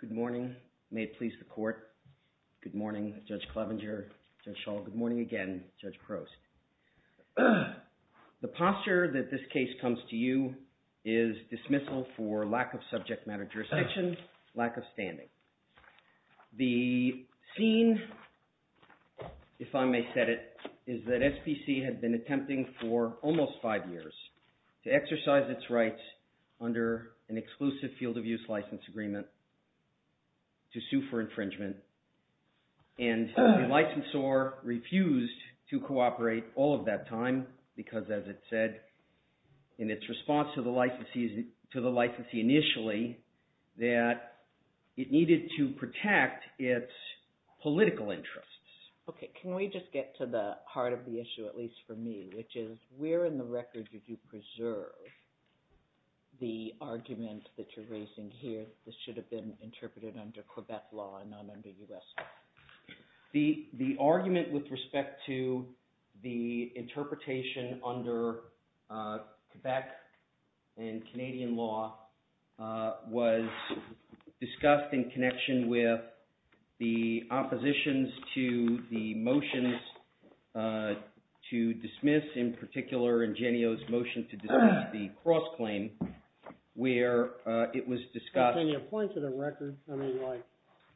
Good morning. May it please the court. Good morning, Judge Clevenger, Judge Schall. Good morning again, Judge Prost. The posture that this case comes to you is dismissal for lack of subject matter jurisdiction, lack of standing. The scene, if I may set it, is that SPC had been attempting for almost five years to exercise its rights under an exclusive field of use license agreement to sue for infringement. And the licensor refused to cooperate all of that time because, as it said in its response to the licensee initially, that it needed to protect its political interests. Okay, can we just get to the heart of the issue at least for me, which is where in the record did you preserve the argument that you're raising here that this should have been interpreted under Quebec law and not under U.S. law? The argument with respect to the interpretation under Quebec and Canadian law was discussed in connection with the oppositions to the motions to dismiss, in particular in Genio's motion to dismiss the cross-claim, where it was discussed... Can you point to the record? I mean, like,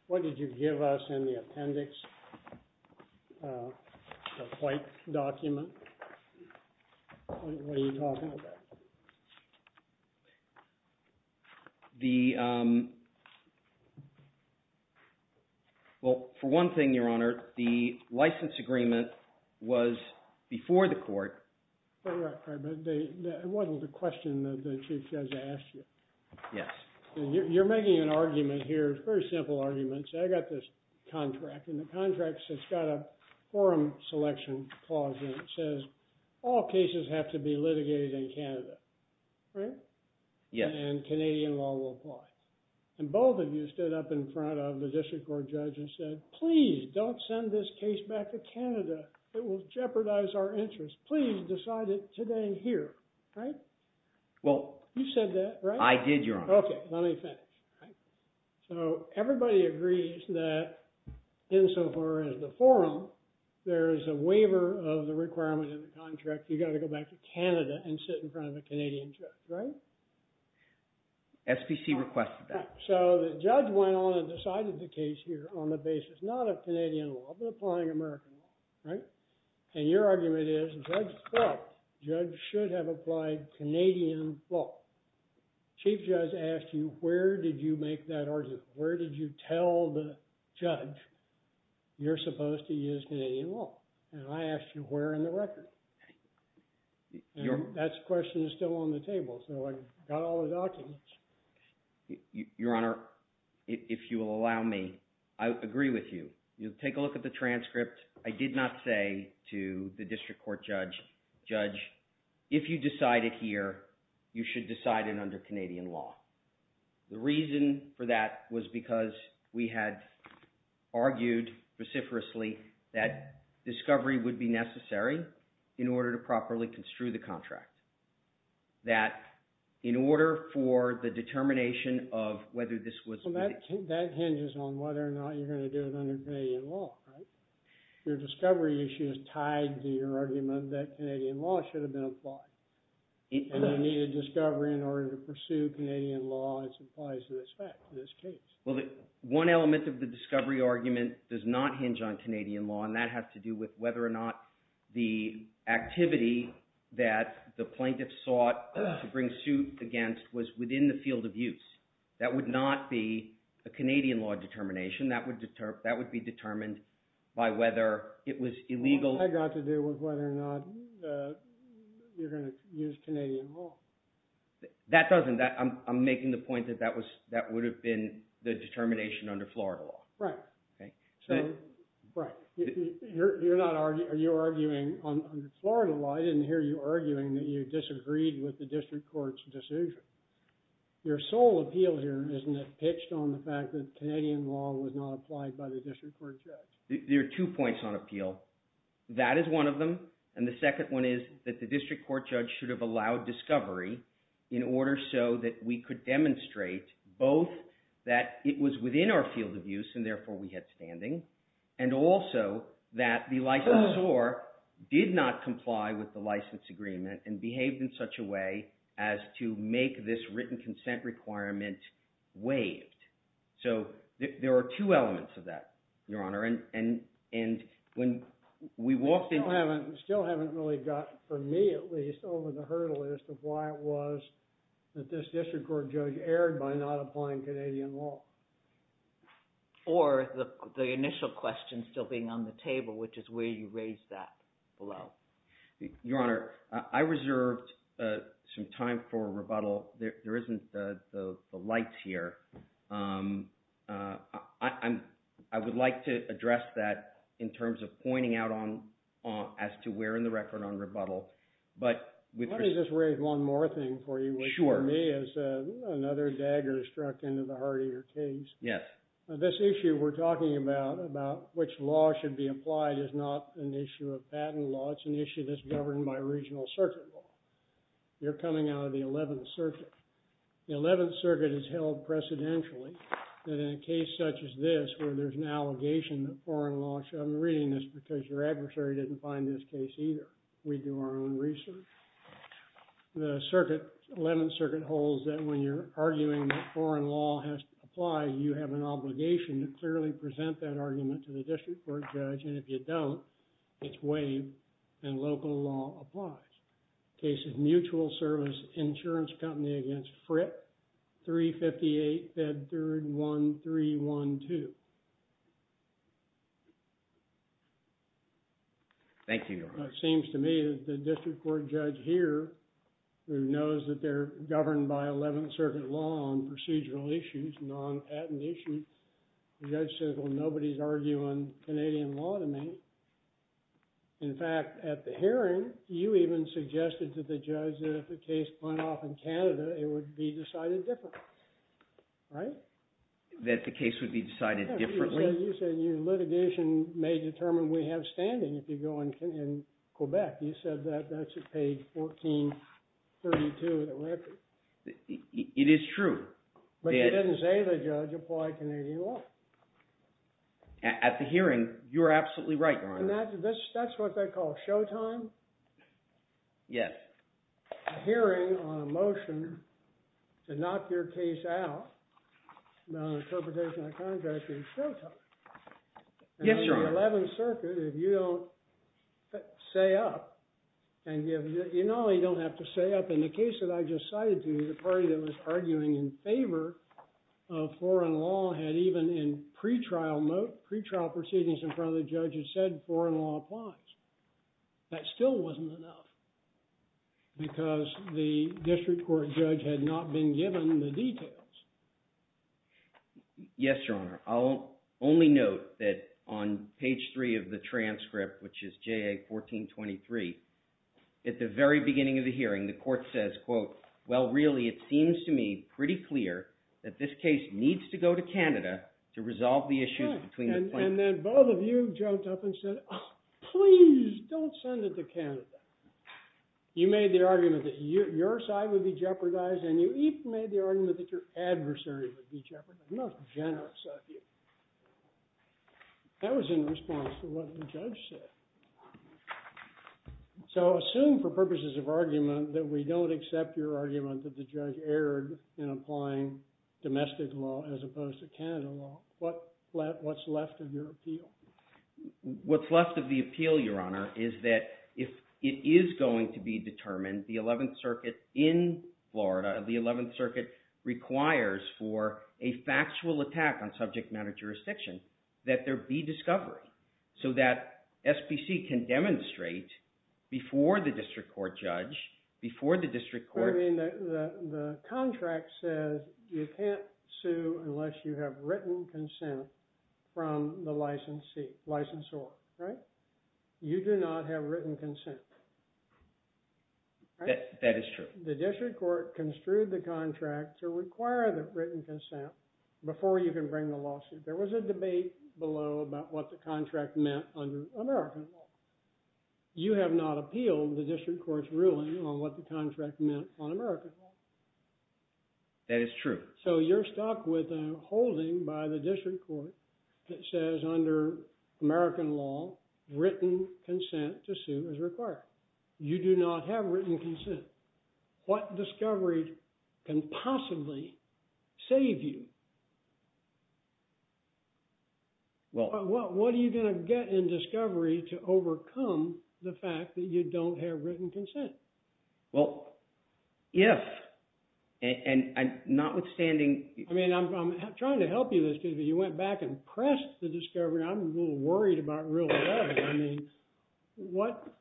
what did you give us in the appendix, the record? Well, for one thing, Your Honor, the license agreement was before the court. Right, right, but it wasn't the question that the Chief Judge asked you. Yes. You're making an argument here, it's a very simple argument, so I got this contract, and the contract says, it's got a forum selection clause in it that says all cases have to be litigated in Canada, right? Yes. And Canadian law will apply. And both of you stood up in front of the district court judge and said, please, don't send this case back to Canada, it will jeopardize our interest, please decide it today here, right? Well... You said that, right? I did, Your Honor. Okay, let me finish. So everybody agrees that insofar as the forum, there is a waiver of the requirement in the contract, you've got to go back to Canada and sit in front of a judge. SBC requested that. So the judge went on and decided the case here on the basis, not of Canadian law, but applying American law, right? And your argument is, the judge thought, the judge should have applied Canadian law. The Chief Judge asked you, where did you make that argument? Where did you tell the judge, you're supposed to use Canadian law? And I asked you, where in the record? And that question is still on the table, so I got all the documents. Your Honor, if you will allow me, I agree with you. Take a look at the transcript. I did not say to the district court judge, judge, if you decide it here, you should decide it under Canadian law. The reason for that was because we had argued reciprocally that discovery would be necessary in order to properly construe the contract. That in order for the determination of whether this was... That hinges on whether or not you're going to do it under Canadian law, right? Your discovery issue is tied to your argument that Canadian law should have been applied. And you needed discovery in order to pursue Canadian law as applies to this fact, to this case. One element of the discovery argument does not hinge on Canadian law, and that has to do with whether or not the activity that the plaintiff sought to bring suit against was within the field of use. That would not be a Canadian law determination. That would be determined by whether it was illegal... That has got to do with whether or not you're going to use Canadian law. That doesn't. I'm making the point that that you're not arguing... Are you arguing... On the Florida law, I didn't hear you arguing that you disagreed with the district court's decision. Your sole appeal here isn't it pitched on the fact that Canadian law was not applied by the district court judge. There are two points on appeal. That is one of them. And the second one is that the district court judge should have allowed discovery in order so that we could demonstrate both that it was within our field of use and therefore we had standing, and also that the licensor did not comply with the license agreement and behaved in such a way as to make this written consent requirement waived. So there are two elements of that, Your Honor. And when we walked in... Still haven't really gotten, for me at least, over the hurdle as to why it was that this district court judge erred by not applying Canadian law. Or the initial question still being on the table, which is where you raised that below. Your Honor, I reserved some time for rebuttal. There isn't the lights here. I would like to address that in terms of pointing out as to where in the record on rebuttal. Let me just raise one more thing for you, which for me is another dagger struck into the heart of your case. This issue we're talking about, about which law should be applied, is not an issue of patent law. It's an issue that's governed by regional circuit law. You're coming out of the 11th Circuit. The 11th Circuit has held precedentially that in a case such as this, where there's an allegation that foreign law should... I'm reading this because your adversary didn't find this case either. We do our own research. The 11th Circuit holds that when you're arguing that foreign law has to apply, you have an obligation to clearly present that argument to the district court judge. And if you don't, it's waived, and local law applies. The case is Mutual Service Insurance Company against Frick, 358 Bedford 1312. Thank you, Your Honor. It seems to me that the district court judge here, who knows that they're governed by 11th Circuit law on procedural issues, non-patent issues, the judge says, well, nobody's arguing Canadian law to me. In fact, at the hearing, you even suggested to the judge that if the case went off in Canada, it would be decided differently. Right? That the case would be decided differently? Well, you said your litigation may determine we have standing if you go in Quebec. You said that. That's at page 1432 of the record. It is true. But you didn't say the judge applied Canadian law. At the hearing, you're absolutely right, Your Honor. And that's what they call showtime? Yes. At a hearing on a motion to knock your case out on interpretation of a contract, it's showtime. Yes, Your Honor. In the 11th Circuit, if you don't say up, and you know you don't have to say up. In the case that I just cited to you, the party that was arguing in favor of foreign law had even in pretrial proceedings in front of the judge had said foreign law applies. That still wasn't enough because the district court judge had not been given the details. Yes, Your Honor. I'll only note that on page 3 of the transcript, which is JA 1423, at the very beginning of the hearing, the court says, quote, well, really, it seems to me pretty clear that this case needs to go to Canada to resolve the issues between the plaintiffs. And then both of you jumped up and said, oh, please don't send it to Canada. You made the argument that your side would be jeopardized, and you even made the argument that your adversary would be jeopardized. Most generous of you. That was in response to what the judge said. So assume for purposes of argument that we don't accept your argument that the judge erred in applying domestic law as opposed to Canada law. What's left of your appeal? What's left of the appeal, Your Honor, is that if it is going to be determined, the 11th Circuit in Florida, the 11th Circuit requires for a factual attack on subject matter jurisdiction that there be discovery so that SBC can demonstrate before the district court judge, before the district court. The contract says you can't sue unless you have written consent from the licensee, licensor, right? You do not have written consent. That is true. The district court construed the contract to require the written consent before you can bring the lawsuit. There was a debate below about what the contract meant under American law. You have not appealed the district court's ruling on what the contract meant on American law. That is true. So you're stuck with a holding by the district court that says under American law, written consent to sue is required. You do not have written consent. What discovery can possibly save you? Well, what are you going to get in discovery to overcome the fact that you don't have written consent? Well, yes. And notwithstanding, I mean, I'm trying to help you with this because if you went back and pressed the discovery, I'm a little worried about real trouble. I mean, what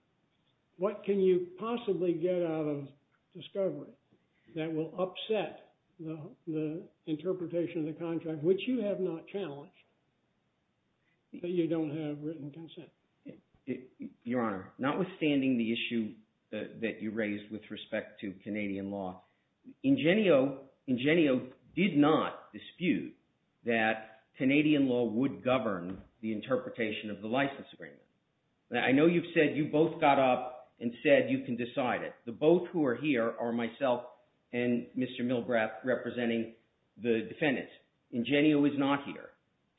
what can you possibly get out of discovery that will upset the interpretation of the contract, which you have not challenged, that you don't have written consent? Your Honor, notwithstanding the issue that you raised with respect to Canadian law, Ingenio did not dispute that Canadian law would govern the interpretation of the license agreement. I know you've said you both got up and said you can decide it. The both who are here are myself and Mr. Milgraf representing the defendants. Ingenio is not here.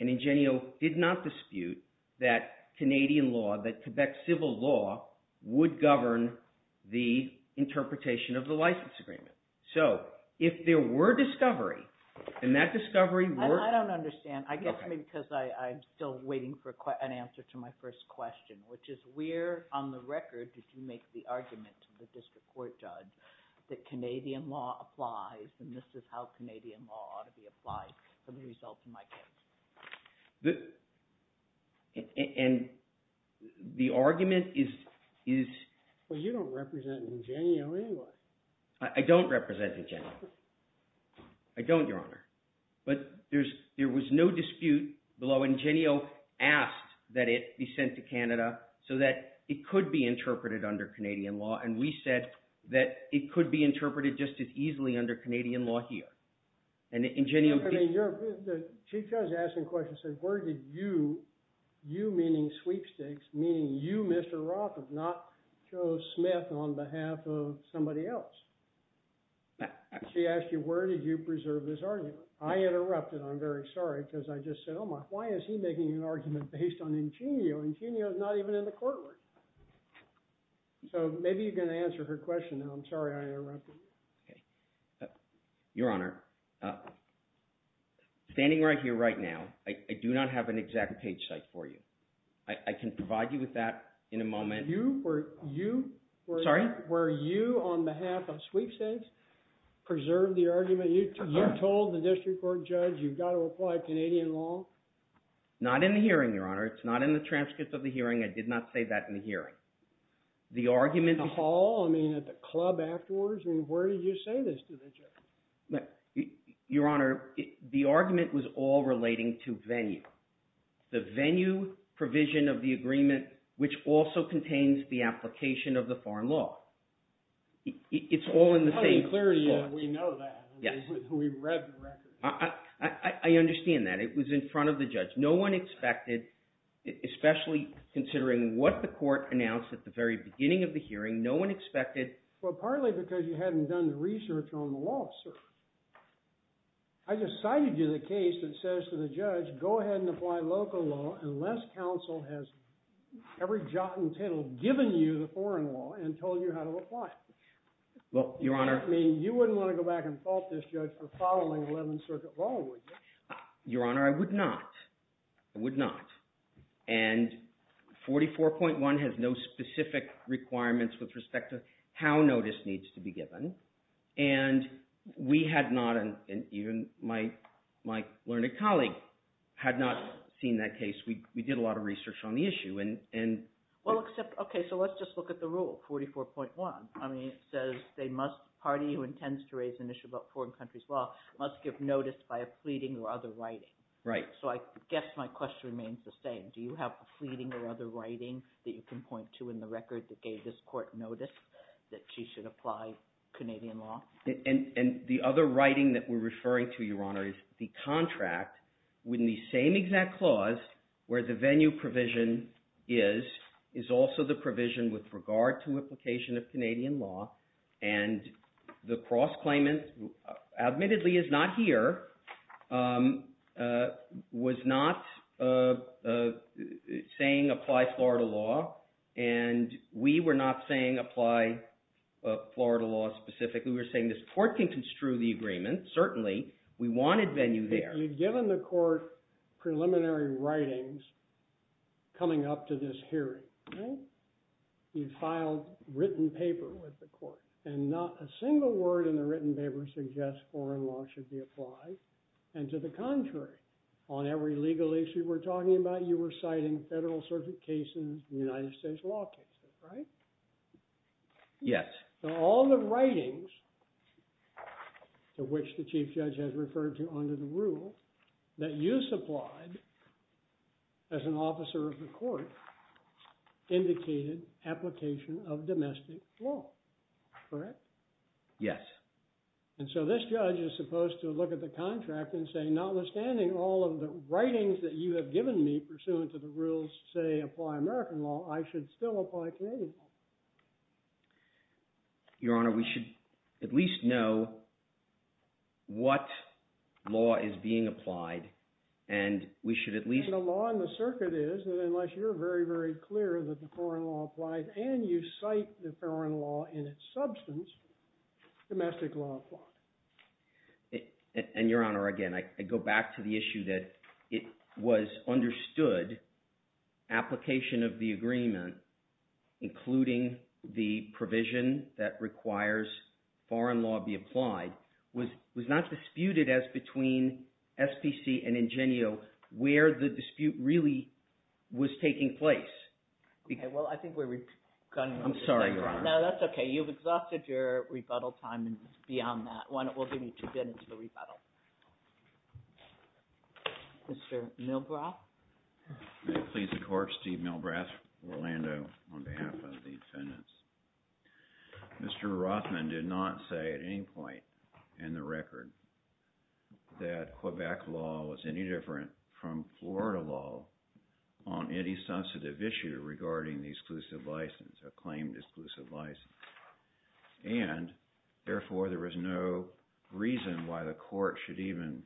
And Ingenio did not dispute that Canadian law, that Quebec civil law, would govern the interpretation of the license agreement. So if there were discovery, and that discovery would- I don't understand. I guess maybe because I'm still waiting for an answer to my first question, which is where on the record did you make the argument to the district court judge that Canadian law applies and this is how Canadian law ought to be applied for the results of my case? And the argument is- Well, you don't represent Ingenio anyway. I don't represent Ingenio. I don't, Your Honor. But there was no dispute below. Ingenio asked that it be sent to Canada so that it could be interpreted under Canadian law. And we said that it could be interpreted just as easily under Canadian law here. And Ingenio- I mean, the Chief Judge asking the question said, where did you, you meaning sweepstakes, meaning you, Mr. Roth, if not Joe Smith on behalf of somebody else, she asked you, where did you preserve this argument? I interrupted. I'm very sorry because I just said, oh my, why is he making an argument based on Ingenio? Ingenio is not even in the court. So maybe you can answer her question. I'm sorry I interrupted. Your Honor, standing right here right now, I do not have an exact page site for you. I can provide you with that in a moment. You were- Sorry? Were you, on behalf of sweepstakes, preserved the argument? You told the district court judge you've got to apply Canadian law? Not in the hearing, Your Honor. It's not in the transcript of the hearing. I did not say that in the hearing. The argument- In the hall? I mean, at the club afterwards? I mean, where did you say this to the judge? Your Honor, the argument was all relating to venue. The venue provision of the agreement, which also contains the application of the foreign law. It's all in the same- Clearly, we know that. Yes. We've read the record. I understand that. It was in front of the judge. No one expected, especially considering what the court announced at the very beginning of the hearing, no one expected- Well, partly because you hadn't done the research on the law, sir. I just cited you the case that says to the judge, go ahead and apply local law unless counsel has every jot and tittle given you the foreign law and told you how to apply it. Well, Your Honor- I mean, you wouldn't want to go back and fault this judge for following Eleventh Circuit law, would you? Your Honor, I would not. I would not. And 44.1 has no specific requirements with respect to how notice needs to be given. And we had not – and even my learned colleague had not seen that case. We did a lot of research on the issue. Well, except – okay, so let's just look at the rule, 44.1. I mean, it says they must – party who intends to raise an issue about foreign countries' law must give notice by a fleeting or other writing. Right. So I guess my question remains the same. Do you have a fleeting or other writing that you can point to in the record that gave this court notice that she should apply Canadian law? And the other writing that we're referring to, Your Honor, is the contract within the same exact clause where the venue provision is, is also the provision with regard to implication of Canadian law. And the cross-claimant admittedly is not here, was not saying apply Florida law, and we were not saying apply Florida law specifically. We were saying this court can construe the agreement, certainly. We wanted venue there. So you've given the court preliminary writings coming up to this hearing, right? You've filed written paper with the court, and not a single word in the written paper suggests foreign law should be applied. And to the contrary, on every legal issue we're talking about, you were citing federal circuit cases, United States law cases, right? Yes. So all the writings to which the chief judge has referred to under the rule that you supplied as an officer of the court indicated application of domestic law, correct? Yes. And so this judge is supposed to look at the contract and say, notwithstanding all of the writings that you have given me pursuant to the rules say apply American law, I should still apply Canadian law. Your Honor, we should at least know what law is being applied, and we should at least… And the law in the circuit is that unless you're very, very clear that the foreign law applies and you cite the foreign law in its substance, domestic law applies. And, Your Honor, again, I go back to the issue that it was understood application of the agreement, including the provision that requires foreign law be applied, was not disputed as between SPC and Ingenio where the dispute really was taking place. Well, I think we're… I'm sorry, Your Honor. No, that's okay. You've exhausted your rebuttal time beyond that. We'll give you two minutes for rebuttal. Mr. Milbrath. May it please the Court, Steve Milbrath, Orlando, on behalf of the defendants. Mr. Rothman did not say at any point in the record that Quebec law was any different from Florida law on any substantive issue regarding the exclusive license, a claimed exclusive license. And, therefore, there was no reason why the Court should even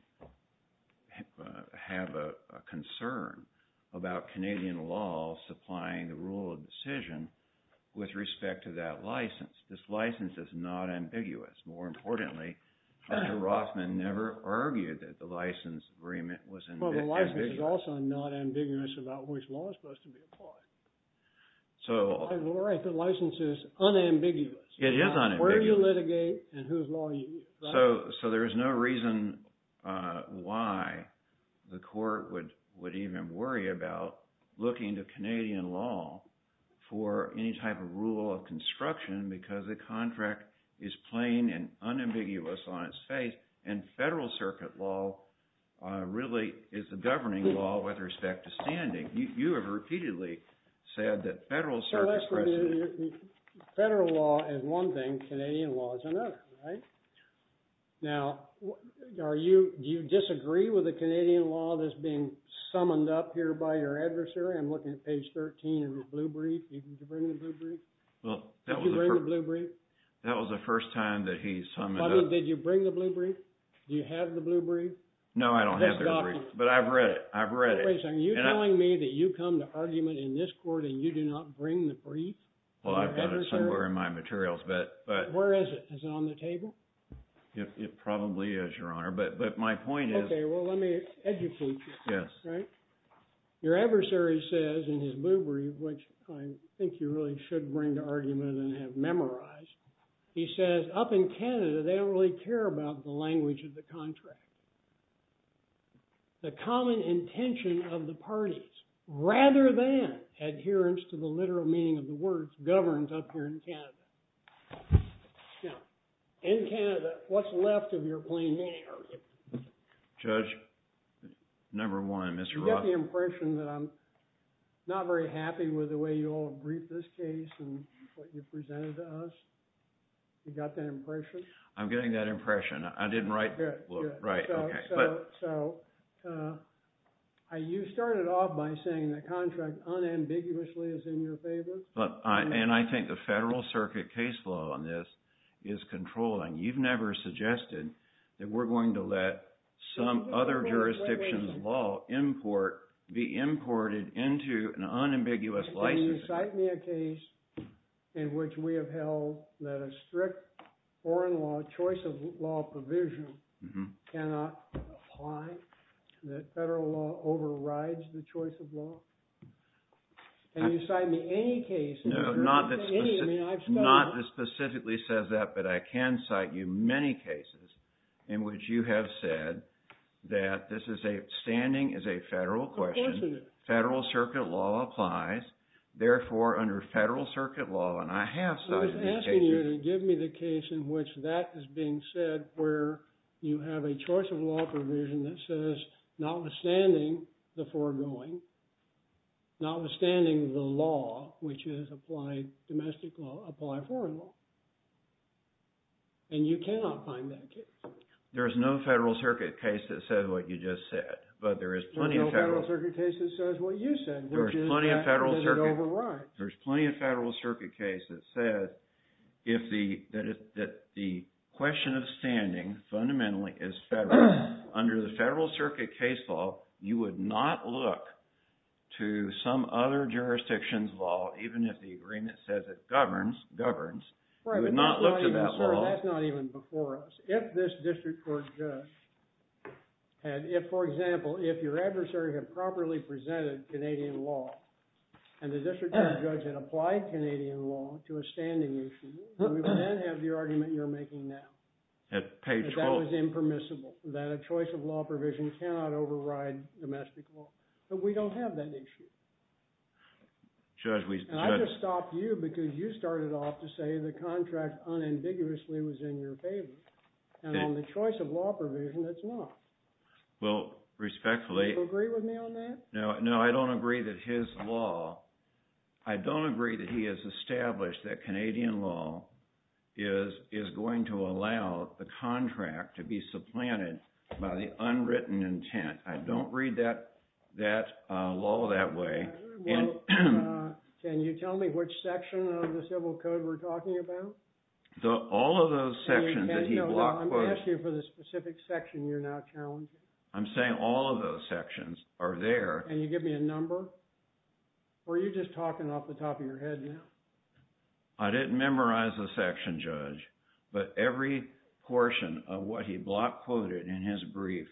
have a concern about Canadian law supplying the rule of decision with respect to that license. This license is not ambiguous. More importantly, Mr. Rothman never argued that the license agreement was ambiguous. Well, the license is also not ambiguous about which law is supposed to be applied. So… The license is unambiguous. It is unambiguous. Where you litigate and whose law you use. So, there is no reason why the Court would even worry about looking to Canadian law for any type of rule of construction because the contract is plain and unambiguous on its face. And federal circuit law really is the governing law with respect to standing. You have repeatedly said that federal circuit… Federal law is one thing. Canadian law is another. Right? Now, are you… Do you disagree with the Canadian law that's being summoned up here by your adversary? I'm looking at page 13 of the blue brief. Did you bring the blue brief? Well, that was… Did you bring the blue brief? That was the first time that he summoned up… Did you bring the blue brief? Do you have the blue brief? No, I don't have the blue brief. But I've read it. I've read it. Wait a second. Are you telling me that you come to argument in this Court and you do not bring the brief? Well, I've got it somewhere in my materials, but… Where is it? Is it on the table? It probably is, Your Honor. But my point is… Okay. Well, let me educate you. Yes. Right? Your adversary says in his blue brief, which I think you really should bring to argument and have memorized. He says, up in Canada, they don't really care about the language of the contract. The common intention of the parties, rather than adherence to the literal meaning of the words, governs up here in Canada. Now, in Canada, what's left of your plain name? Judge, number one, Mr. Roth… Do you get the impression that I'm not very happy with the way you all briefed this case and what you presented to us? Do you got that impression? I'm getting that impression. I didn't write… Right. Okay. So, you started off by saying the contract unambiguously is in your favor. And I think the Federal Circuit case law on this is controlling. You've never suggested that we're going to let some other jurisdiction's law be imported into an unambiguous licensing. Can you cite me a case in which we have held that a strict foreign law choice of law provision cannot apply? That federal law overrides the choice of law? Can you cite me any case… No, not that specifically says that, but I can cite you many cases in which you have said that this is a standing as a federal question. Federal Circuit law applies. Therefore, under Federal Circuit law, and I have cited you cases… I was asking you to give me the case in which that is being said where you have a choice of law provision that says notwithstanding the foregoing, notwithstanding the law, which is applied domestic law, apply foreign law. And you cannot find that case. There's no Federal Circuit case that says what you just said, but there is plenty of Federal… There's plenty of Federal Circuit cases that says that the question of standing fundamentally is federal. Under the Federal Circuit case law, you would not look to some other jurisdiction's law, even if the agreement says it governs, governs. You would not look to that law. Right, but that's not even before us. If this district court judge had… If, for example, if your adversary had properly presented Canadian law and the district court judge had applied Canadian law to a standing issue, we would then have the argument you're making now. At page 12… That was impermissible, that a choice of law provision cannot override domestic law. But we don't have that issue. Judge, we… And on the choice of law provision, it's not. Well, respectfully… Do you agree with me on that? No, I don't agree that his law… I don't agree that he has established that Canadian law is going to allow the contract to be supplanted by the unwritten intent. I don't read that law that way. Can you tell me which section of the Civil Code we're talking about? All of those sections that he block-quoted… I'm asking you for the specific section you're now challenging. I'm saying all of those sections are there. Can you give me a number? Or are you just talking off the top of your head now? I didn't memorize the section, Judge, but every portion of what he block-quoted in his brief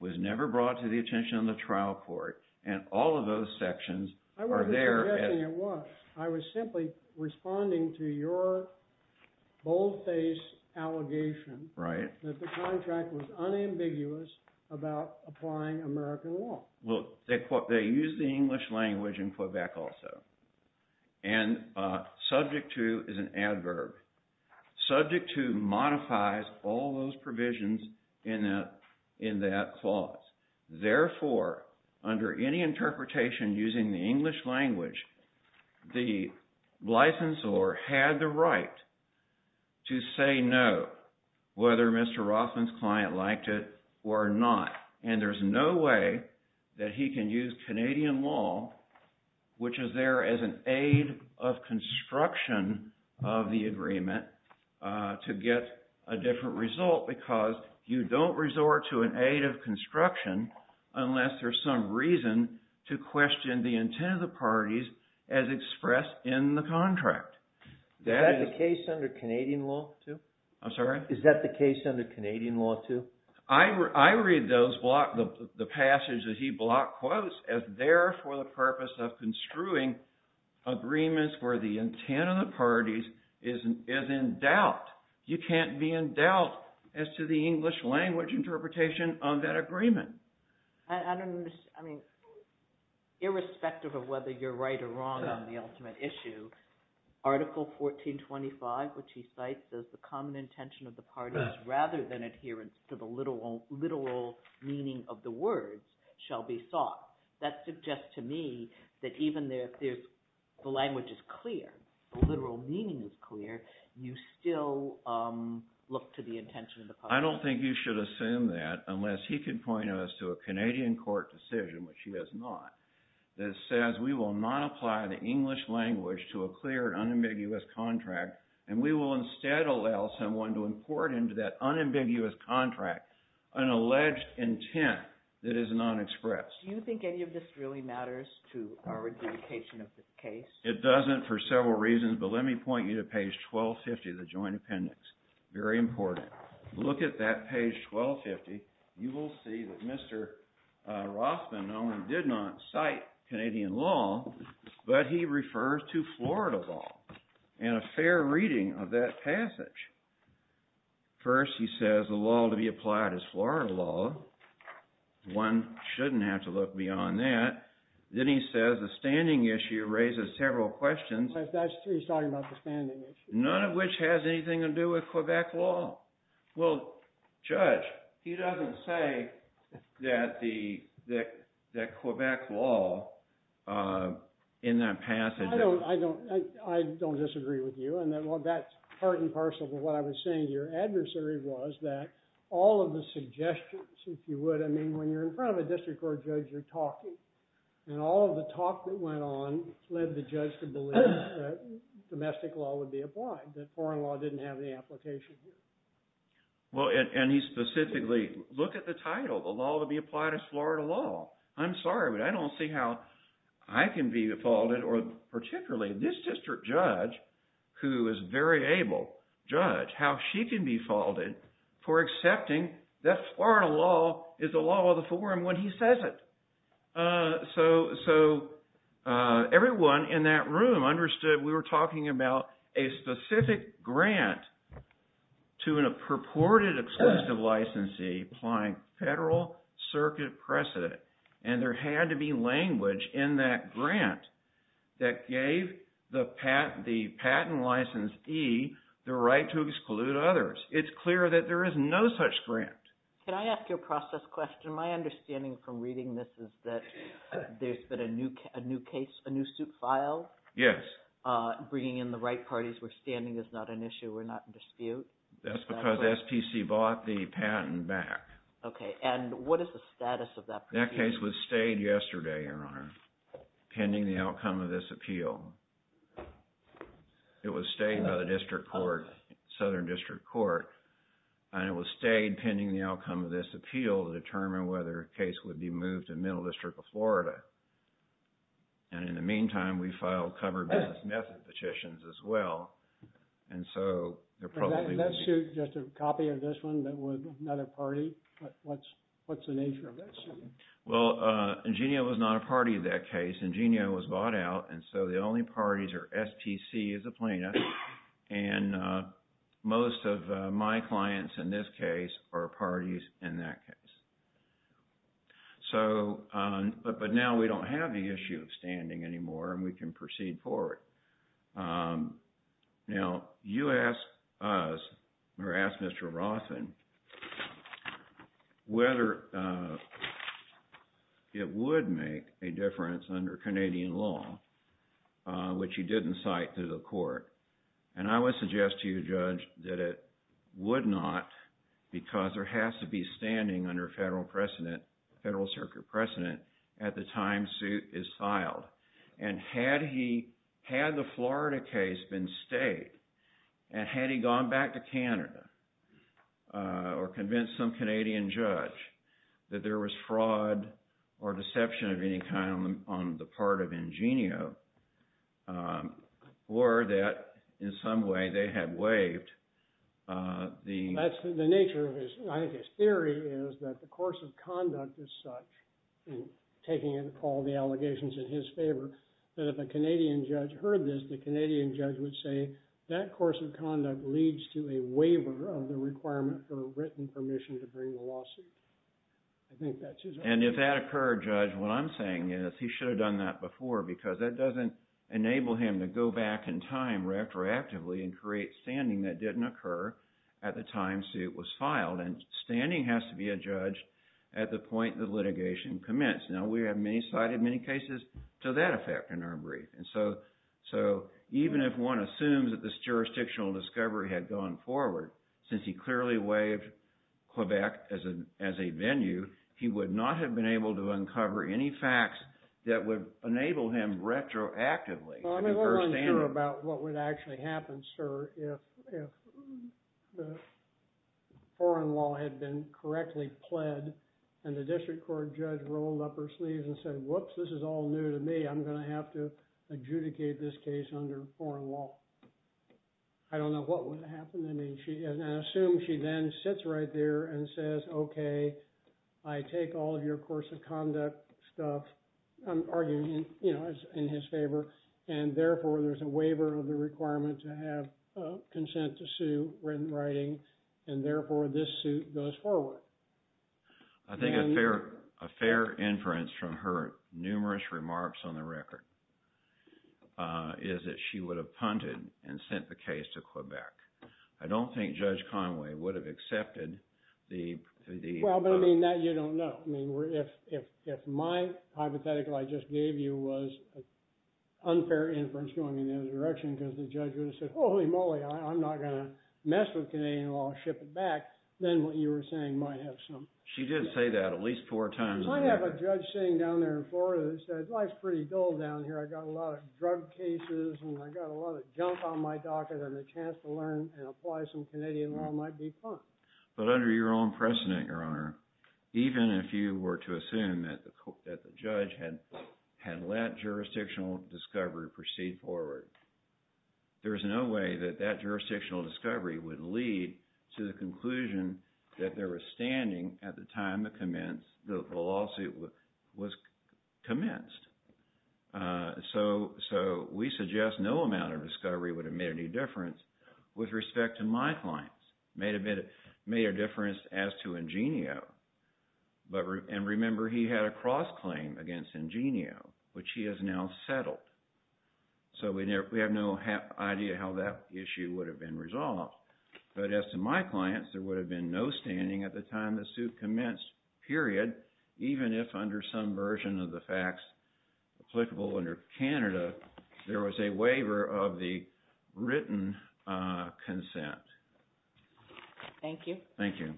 was never brought to the attention of the trial court, and all of those sections are there. I wasn't suggesting it was. I was simply responding to your bold-faced allegation… Right. …that the contract was unambiguous about applying American law. Look, they use the English language in Quebec also, and subject to is an adverb. Subject to modifies all those provisions in that clause. Therefore, under any interpretation using the English language, the licensor had the right to say no, whether Mr. Rothman's client liked it or not. And there's no way that he can use Canadian law, which is there as an aid of construction of the agreement, to get a different result because you don't resort to an aid of construction unless there's some reason to question the intent of the parties as expressed in the contract. Is that the case under Canadian law too? I'm sorry? Is that the case under Canadian law too? I read the passage that he blocked quotes as there for the purpose of construing agreements where the intent of the parties is in doubt. You can't be in doubt as to the English language interpretation of that agreement. I don't understand. I mean irrespective of whether you're right or wrong on the ultimate issue, Article 1425, which he cites as the common intention of the parties rather than adherence to the literal meaning of the words, shall be sought. That suggests to me that even if the language is clear, the literal meaning is clear, you still look to the intention of the parties. I don't think you should assume that unless he can point us to a Canadian court decision, which he has not, that says we will not apply the English language to a clear and unambiguous contract, and we will instead allow someone to import into that unambiguous contract an alleged intent that is not expressed. Do you think any of this really matters to our adjudication of the case? It doesn't for several reasons, but let me point you to page 1250 of the Joint Appendix. Very important. Look at that page 1250. You will see that Mr. Rothman not only did not cite Canadian law, but he refers to Florida law, and a fair reading of that passage. First, he says the law to be applied is Florida law. One shouldn't have to look beyond that. Then he says the standing issue raises several questions. He's talking about the standing issue. None of which has anything to do with Quebec law. Well, Judge, he doesn't say that Quebec law in that passage. I don't disagree with you, and that's part and parcel of what I was saying. Your adversary was that all of the suggestions, if you would. I mean, when you're in front of a district court judge, you're talking. And all of the talk that went on led the judge to believe that domestic law would be applied, that foreign law didn't have any application here. Well, and he specifically, look at the title. The law to be applied is Florida law. I'm sorry, but I don't see how I can be faulted, or particularly this district judge, who is very able, judge how she can be faulted for accepting that Florida law is the law of the forum when he says it. So everyone in that room understood we were talking about a specific grant to a purported exclusive licensee applying federal circuit precedent. And there had to be language in that grant that gave the patent licensee the right to exclude others. It's clear that there is no such grant. Can I ask you a process question? My understanding from reading this is that there's been a new suit filed? Yes. Bringing in the right parties we're standing is not an issue. We're not in dispute. That's because SPC bought the patent back. Okay. And what is the status of that? That case was stayed yesterday, Your Honor, pending the outcome of this appeal. It was stayed by the district court, Southern District Court. And it was stayed pending the outcome of this appeal to determine whether a case would be moved to Middle District of Florida. And in the meantime, we filed covered business method petitions as well. And so there probably was... That suit, just a copy of this one, that was not a party? What's the nature of that suit? Well, Ingenio was not a party to that case. Ingenio was bought out, and so the only parties are SPC as a plaintiff. And most of my clients in this case are parties in that case. But now we don't have the issue of standing anymore, and we can proceed forward. Now, you asked us, or asked Mr. Rothen, whether it would make a difference under Canadian law, which you didn't cite to the court. And I would suggest to you, Judge, that it would not, because there has to be standing under federal precedent, federal circuit precedent, at the time suit is filed. And had he... Had the Florida case been stayed, and had he gone back to Canada, or convinced some Canadian judge that there was fraud or deception of any kind on the part of Ingenio, or that, in some way, they had waived the... That's the nature of his... I think his theory is that the course of conduct is such, and taking into all the allegations in his favor, that if a Canadian judge heard this, the Canadian judge would say, that course of conduct leads to a waiver of the requirement for written permission to bring the lawsuit. I think that's his argument. And if that occurred, Judge, what I'm saying is, he should have done that before, because that doesn't enable him to go back in time retroactively and create standing that didn't occur at the time suit was filed. And standing has to be adjudged at the point the litigation commenced. Now, we have cited many cases to that effect in our brief. And so, even if one assumes that this jurisdictional discovery had gone forward, since he clearly waived Quebec as a venue, he would not have been able to uncover any facts that would enable him retroactively. I'm not sure about what would actually happen, sir, if the foreign law had been correctly pled, and the district court judge rolled up her sleeves and said, whoops, this is all new to me, I'm going to have to adjudicate this case under foreign law. I don't know what would have happened to me. And I assume she then sits right there and says, okay, I take all of your course of conduct stuff. I'm arguing in his favor. And therefore, there's a waiver of the requirement to have consent to sue written writing. And therefore, this suit goes forward. I think a fair inference from her numerous remarks on the record is that she would have punted and sent the case to Quebec. I don't think Judge Conway would have accepted the— Well, but I mean, that you don't know. I mean, if my hypothetical I just gave you was unfair inference going in the other direction, because the judge would have said, holy moly, I'm not going to mess with Canadian law and ship it back, then what you were saying might have some— She did say that at least four times. I have a judge sitting down there in Florida who said, life's pretty dull down here. I got a lot of drug cases, and I got a lot of junk on my docket, and the chance to learn and apply some Canadian law might be fun. But under your own precedent, Your Honor, even if you were to assume that the judge had let jurisdictional discovery proceed forward, there is no way that that jurisdictional discovery would lead to the conclusion that they were standing at the time the lawsuit was commenced. So we suggest no amount of discovery would have made any difference with respect to my clients. It might have made a difference as to Ingenio. And remember, he had a cross-claim against Ingenio, which he has now settled. So we have no idea how that issue would have been resolved. But as to my clients, there would have been no standing at the time the suit commenced, period, even if under some version of the facts applicable under Canada, there was a waiver of the written consent. Thank you. Thank you.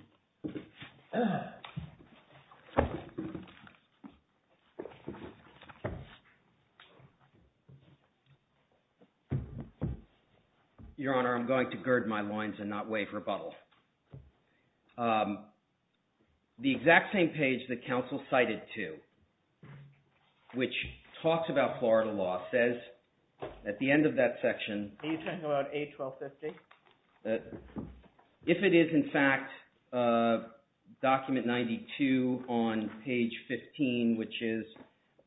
Your Honor, I'm going to gird my loins and not waive rebuttal. The exact same page that counsel cited to, which talks about Florida law, says at the end of that section... Are you talking about A1250? If it is, in fact, document 92 on page 15, which is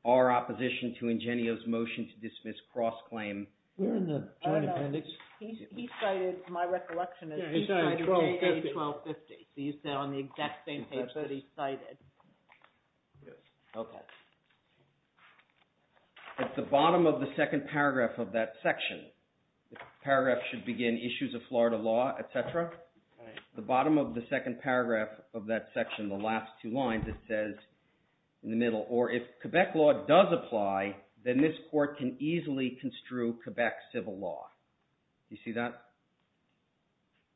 our opposition to Ingenio's motion to dismiss cross-claim... We're in the Joint Appendix. He cited, to my recollection, as he cited A1250. So you said on the exact same page that he cited. Yes. Okay. At the bottom of the second paragraph of that section, the paragraph should begin, Issues of Florida Law, etc. At the bottom of the second paragraph of that section, the last two lines, it says in the middle, or if Quebec law does apply, then this court can easily construe Quebec civil law. Do you see that?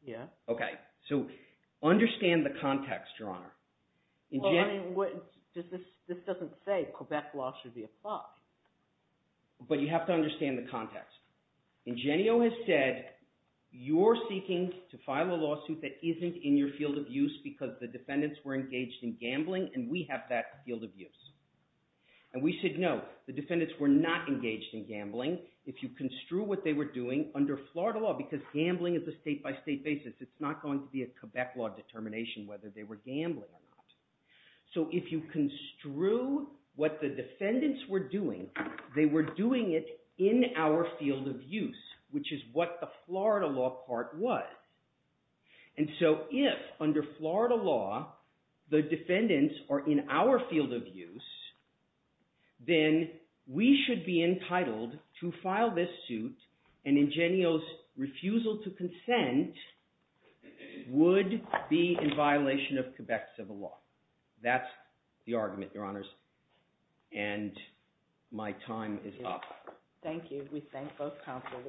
Yes. Okay. So understand the context, Your Honor. This doesn't say Quebec law should be applied. But you have to understand the context. Ingenio has said, you're seeking to file a lawsuit that isn't in your field of use because the defendants were engaged in gambling, and we have that field of use. And we said, no, the defendants were not engaged in gambling if you construe what they were doing under Florida law, because gambling is a state-by-state basis. It's not going to be a Quebec law determination whether they were gambling or not. So if you construe what the defendants were doing, they were doing it in our field of use, which is what the Florida law part was. And so if, under Florida law, the defendants are in our field of use, then we should be entitled to file this suit, and Ingenio's refusal to consent would be in violation of Quebec civil law. That's the argument, Your Honors. And my time is up. Thank you. We thank both counsel.